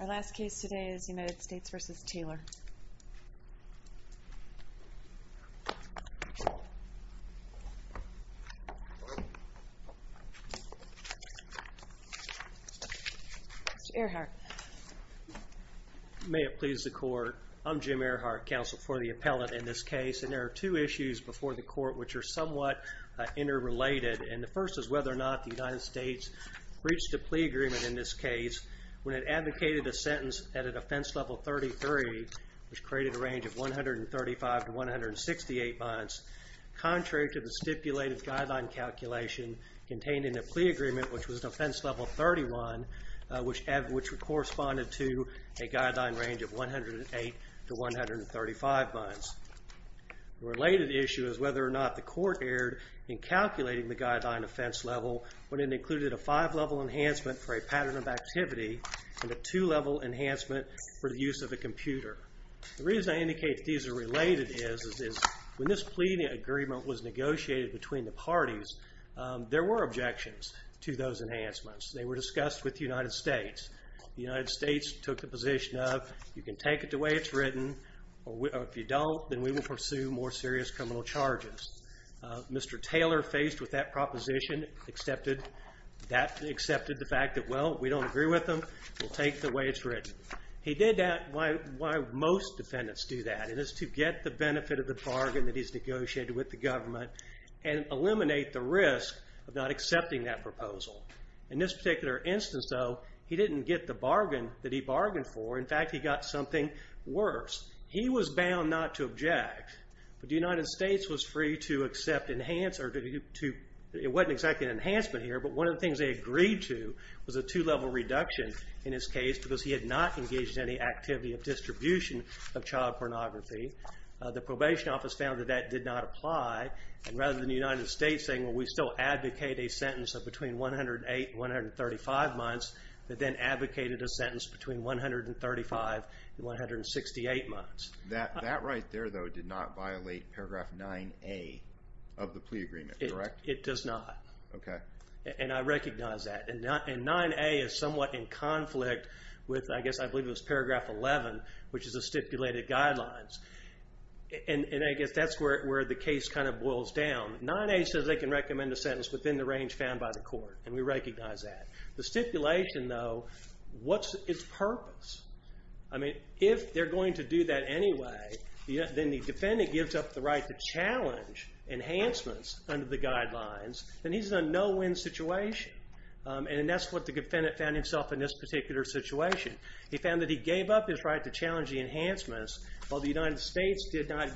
Our last case today is United States v. Taylor. Mr. Earhart. May it please the court. I'm Jim Earhart, counsel for the appellant in this case. And there are two issues before the court which are somewhat interrelated. And the first is whether or not the United States reached a plea agreement in this case when it advocated a sentence at a defense level 33, which created a range of 135 to 168 months, contrary to the stipulated guideline calculation contained in the plea agreement, which was defense level 31, which corresponded to a guideline range of 108 to 135 months. The related issue is whether or not the court erred in calculating the guideline defense level when it included a five-level enhancement for a pattern of activity and a two-level enhancement for the use of a computer. The reason I indicate these are related is when this plea agreement was negotiated between the parties, there were objections to those enhancements. They were discussed with the United States. The United States took the position of you can take it the way it's written, or if you don't, then we will pursue more serious criminal charges. Mr. Taylor, faced with that proposition, accepted the fact that, well, we don't agree with them. We'll take it the way it's written. He did that. Why most defendants do that is to get the benefit of the bargain that he's negotiated with the government and eliminate the risk of not accepting that proposal. In this particular instance, though, he didn't get the bargain that he bargained for. In fact, he got something worse. He was bound not to object, but the United States was free to accept enhance or it wasn't exactly an enhancement here, but one of the things they agreed to was a two-level reduction in his case because he had not engaged in any activity of distribution of child pornography. The probation office found that that did not apply, and rather than the United States saying, well, we still advocate a sentence of between 108 and 135 months, they then advocated a sentence between 135 and 168 months. That right there, though, did not violate paragraph 9A of the plea agreement, correct? It does not. Okay. And I recognize that. And 9A is somewhat in conflict with, I guess, I believe it was paragraph 11, which is the stipulated guidelines. And I guess that's where the case kind of boils down. 9A says they can recommend a sentence within the range found by the court, and we recognize that. The stipulation, though, what's its purpose? I mean, if they're going to do that anyway, then the defendant gives up the right to challenge enhancements under the guidelines, then he's in a no-win situation. And that's what the defendant found himself in this particular situation. He found that he gave up his right to challenge the enhancements, while the United States did not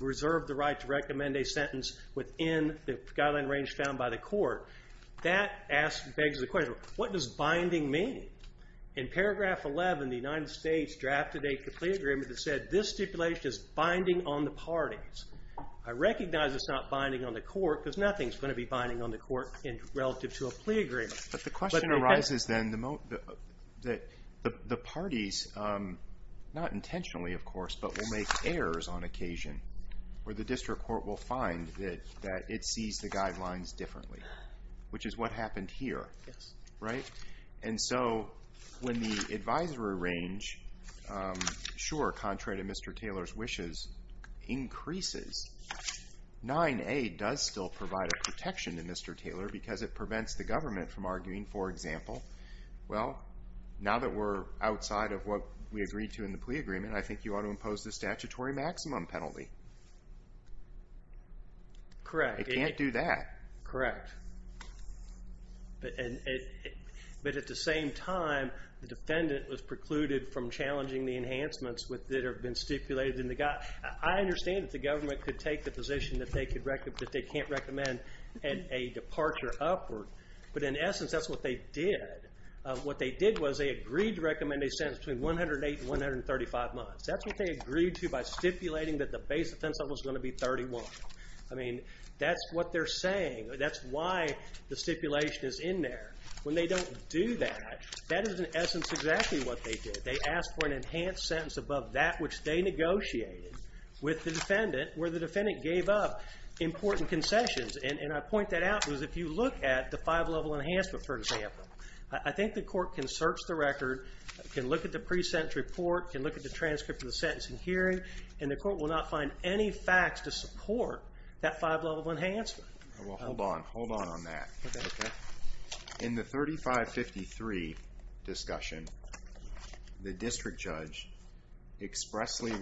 reserve the right to recommend a sentence within the guideline range found by the court. That begs the question, what does binding mean? In paragraph 11, the United States drafted a plea agreement that said, this stipulation is binding on the parties. I recognize it's not binding on the court, because nothing is going to be binding on the court relative to a plea agreement. But the question arises, then, that the parties, not intentionally, of course, but will make errors on occasion, where the district court will find that it sees the guidelines differently, which is what happened here, right? And so when the advisory range, sure, contrary to Mr. Taylor's wishes, increases, 9A does still provide a protection to Mr. Taylor, because it prevents the government from arguing, for example, well, now that we're outside of what we agreed to in the plea agreement, I think you ought to impose the statutory maximum penalty. Correct. It can't do that. Correct. But at the same time, the defendant was precluded from challenging the enhancements that have been stipulated in the guide. I understand that the government could take the position that they can't recommend a departure upward. But in essence, that's what they did. What they did was they agreed to recommend a sentence between 108 and 135 months. That's what they agreed to by stipulating that the base offense level is going to be 31. I mean, that's what they're saying. That's why the stipulation is in there. When they don't do that, that is, in essence, exactly what they did. They asked for an enhanced sentence above that which they negotiated with the defendant, where the defendant gave up important concessions. And I point that out because if you look at the five-level enhancement, for example, I think the court can search the record, can look at the pre-sentence report, can look at the transcript of the sentence in hearing, and the court will not find any facts to support that five-level enhancement. Well, hold on. Hold on on that. Okay. In the 3553 discussion, the district judge expressly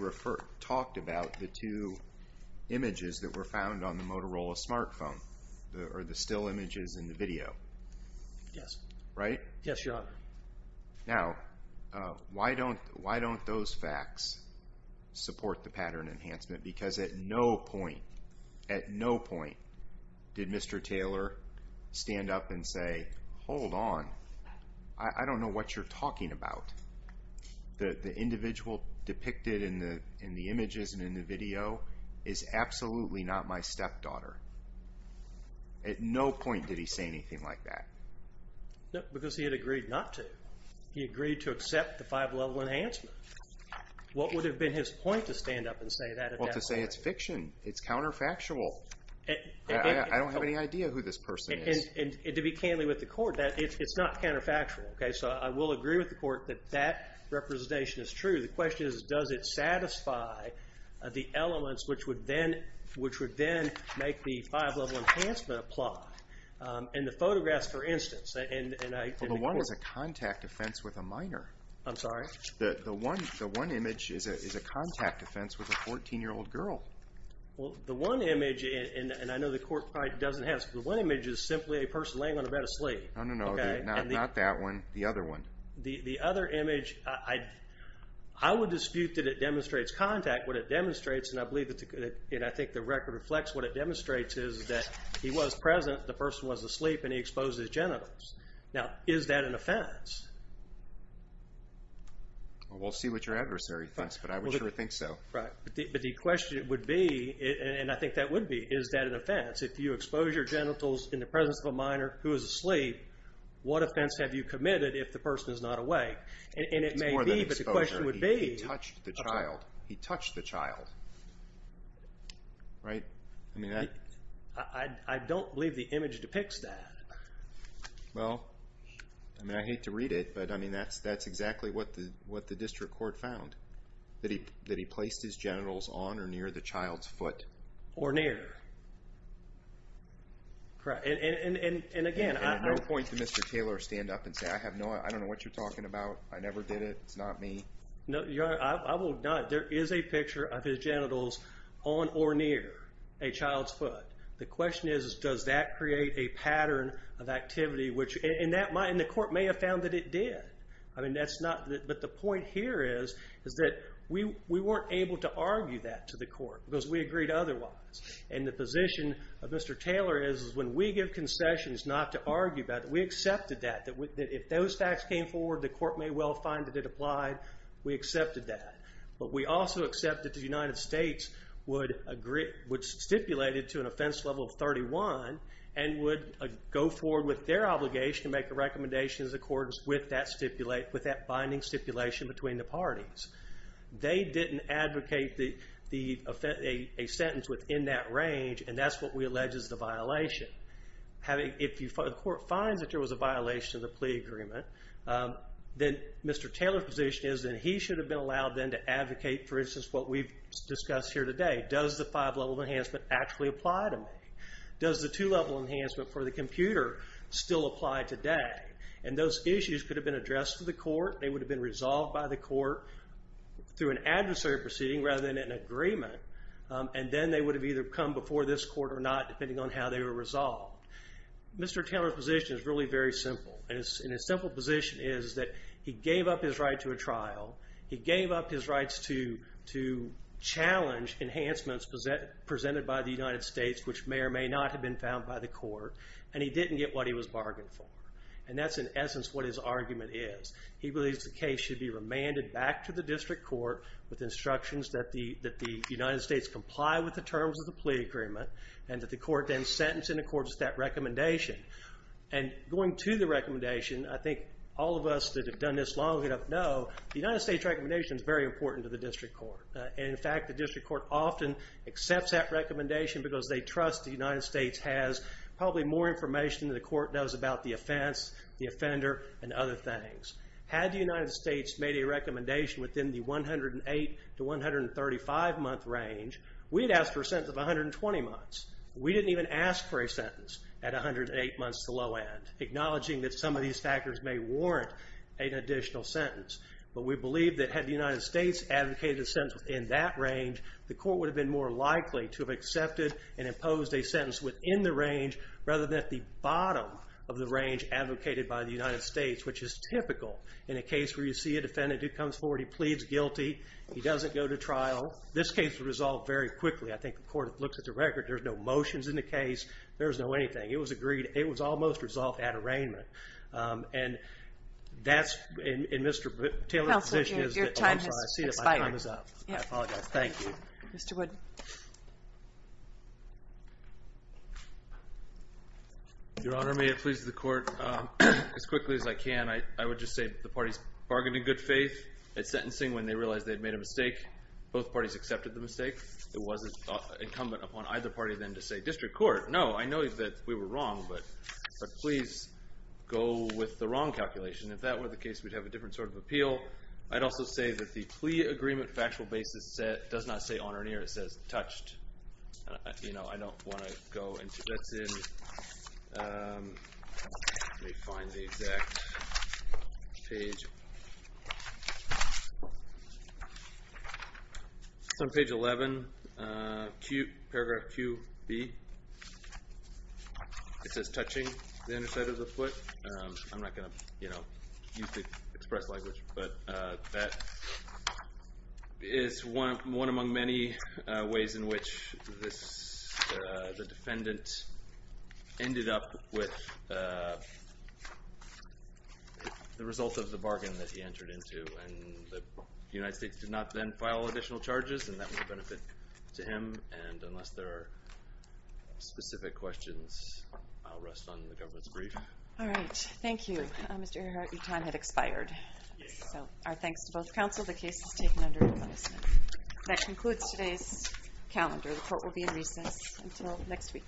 talked about the two images that were found on the Motorola smartphone, or the still images in the video. Yes. Right? Yes, Your Honor. Now, why don't those facts support the pattern enhancement? Because at no point, at no point did Mr. Taylor stand up and say, hold on, I don't know what you're talking about. The individual depicted in the images and in the video is absolutely not my stepdaughter. At no point did he say anything like that. No, because he had agreed not to. He agreed to accept the five-level enhancement. What would have been his point to stand up and say that? Well, to say it's fiction. It's counterfactual. I don't have any idea who this person is. And to be candid with the court, it's not counterfactual. So I will agree with the court that that representation is true. The question is, does it satisfy the elements which would then make the five-level enhancement apply? In the photographs, for instance. The one is a contact offense with a minor. I'm sorry? The one image is a contact offense with a 14-year-old girl. Well, the one image, and I know the court probably doesn't have this, but the one image is simply a person laying on the bed asleep. No, no, no. Not that one. The other one. The other image, I would dispute that it demonstrates contact. What it demonstrates, and I think the record reflects what it demonstrates, is that he was present, the person was asleep, and he exposed his genitals. Now, is that an offense? We'll see what your adversary thinks, but I would sure think so. Right. But the question would be, and I think that would be, is that an offense? If you expose your genitals in the presence of a minor who is asleep, what offense have you committed if the person is not awake? And it may be, but the question would be. It's more than exposure. He touched the child. He touched the child. Right? I mean, that. I don't believe the image depicts that. Well, I mean, I hate to read it, but, I mean, that's exactly what the district court found, that he placed his genitals on or near the child's foot. Or near. And, again, I. No point for Mr. Taylor to stand up and say, I don't know what you're talking about, I never did it, it's not me. No, I will not. There is a picture of his genitals on or near a child's foot. The question is, does that create a pattern of activity, and the court may have found that it did. I mean, that's not. But the point here is that we weren't able to argue that to the court because we agreed otherwise. And the position of Mr. Taylor is when we give concessions not to argue about it, we accepted that. If those facts came forward, the court may well find that it applied. We accepted that. But we also accepted the United States would stipulate it to an offense level of 31 and would go forward with their obligation to make a recommendation in accordance with that binding stipulation between the parties. They didn't advocate a sentence within that range, and that's what we allege is the violation. If the court finds that there was a violation of the plea agreement, then Mr. Taylor's position is that he should have been allowed then to advocate, for instance, what we've discussed here today. Does the five-level enhancement actually apply to me? Does the two-level enhancement for the computer still apply today? And those issues could have been addressed to the court. They would have been resolved by the court through an adversary proceeding rather than an agreement. And then they would have either come before this court or not, depending on how they were resolved. Mr. Taylor's position is really very simple. And his simple position is that he gave up his right to a trial. He gave up his rights to challenge enhancements presented by the United States which may or may not have been found by the court, and he didn't get what he was bargained for. And that's, in essence, what his argument is. He believes the case should be remanded back to the district court with instructions that the United States comply with the terms of the plea agreement and that the court then sentence in accordance with that recommendation. And going to the recommendation, I think all of us that have done this long enough know the United States recommendation is very important to the district court. And, in fact, the district court often accepts that recommendation because they trust the United States has probably more information than the court knows about the offense, the offender, and other things. Had the United States made a recommendation within the 108 to 135 month range, we'd ask for a sentence of 120 months. We didn't even ask for a sentence at 108 months to low end, acknowledging that some of these factors may warrant an additional sentence. But we believe that had the United States advocated a sentence within that range, the court would have been more likely to have accepted and imposed a sentence within the range rather than at the bottom of the range advocated by the United States, which is typical in a case where you see a defendant who comes forward, he pleads guilty, he doesn't go to trial. This case was resolved very quickly. I think the court looks at the record. There's no motions in the case. There's no anything. It was agreed. It was almost resolved at arraignment. And that's in Mr. Taylor's position. Counsel, your time has expired. I apologize. Thank you. Mr. Wood. Your Honor, may it please the court, as quickly as I can, I would just say the parties bargained in good faith at sentencing when they realized they'd made a mistake. Both parties accepted the mistake. It wasn't incumbent upon either party then to say, District Court, no, I know that we were wrong. But please go with the wrong calculation. If that were the case, we'd have a different sort of appeal. I'd also say that the plea agreement factual basis does not say on or near. It says touched. I don't want to go into that. Let me find the exact page. It's on page 11, paragraph QB. It says touching the underside of the foot. I'm not going to use the express language, but that is one among many ways in which the defendant ended up with the result of the bargain that he entered into. And the United States did not then file additional charges, and that would benefit to him. And unless there are specific questions, I'll rest on the government's brief. All right. Thank you. Mr. Herhart, your time has expired. So our thanks to both counsel. The case is taken under admonishment. That concludes today's calendar. The court will be in recess until next week. Thank you.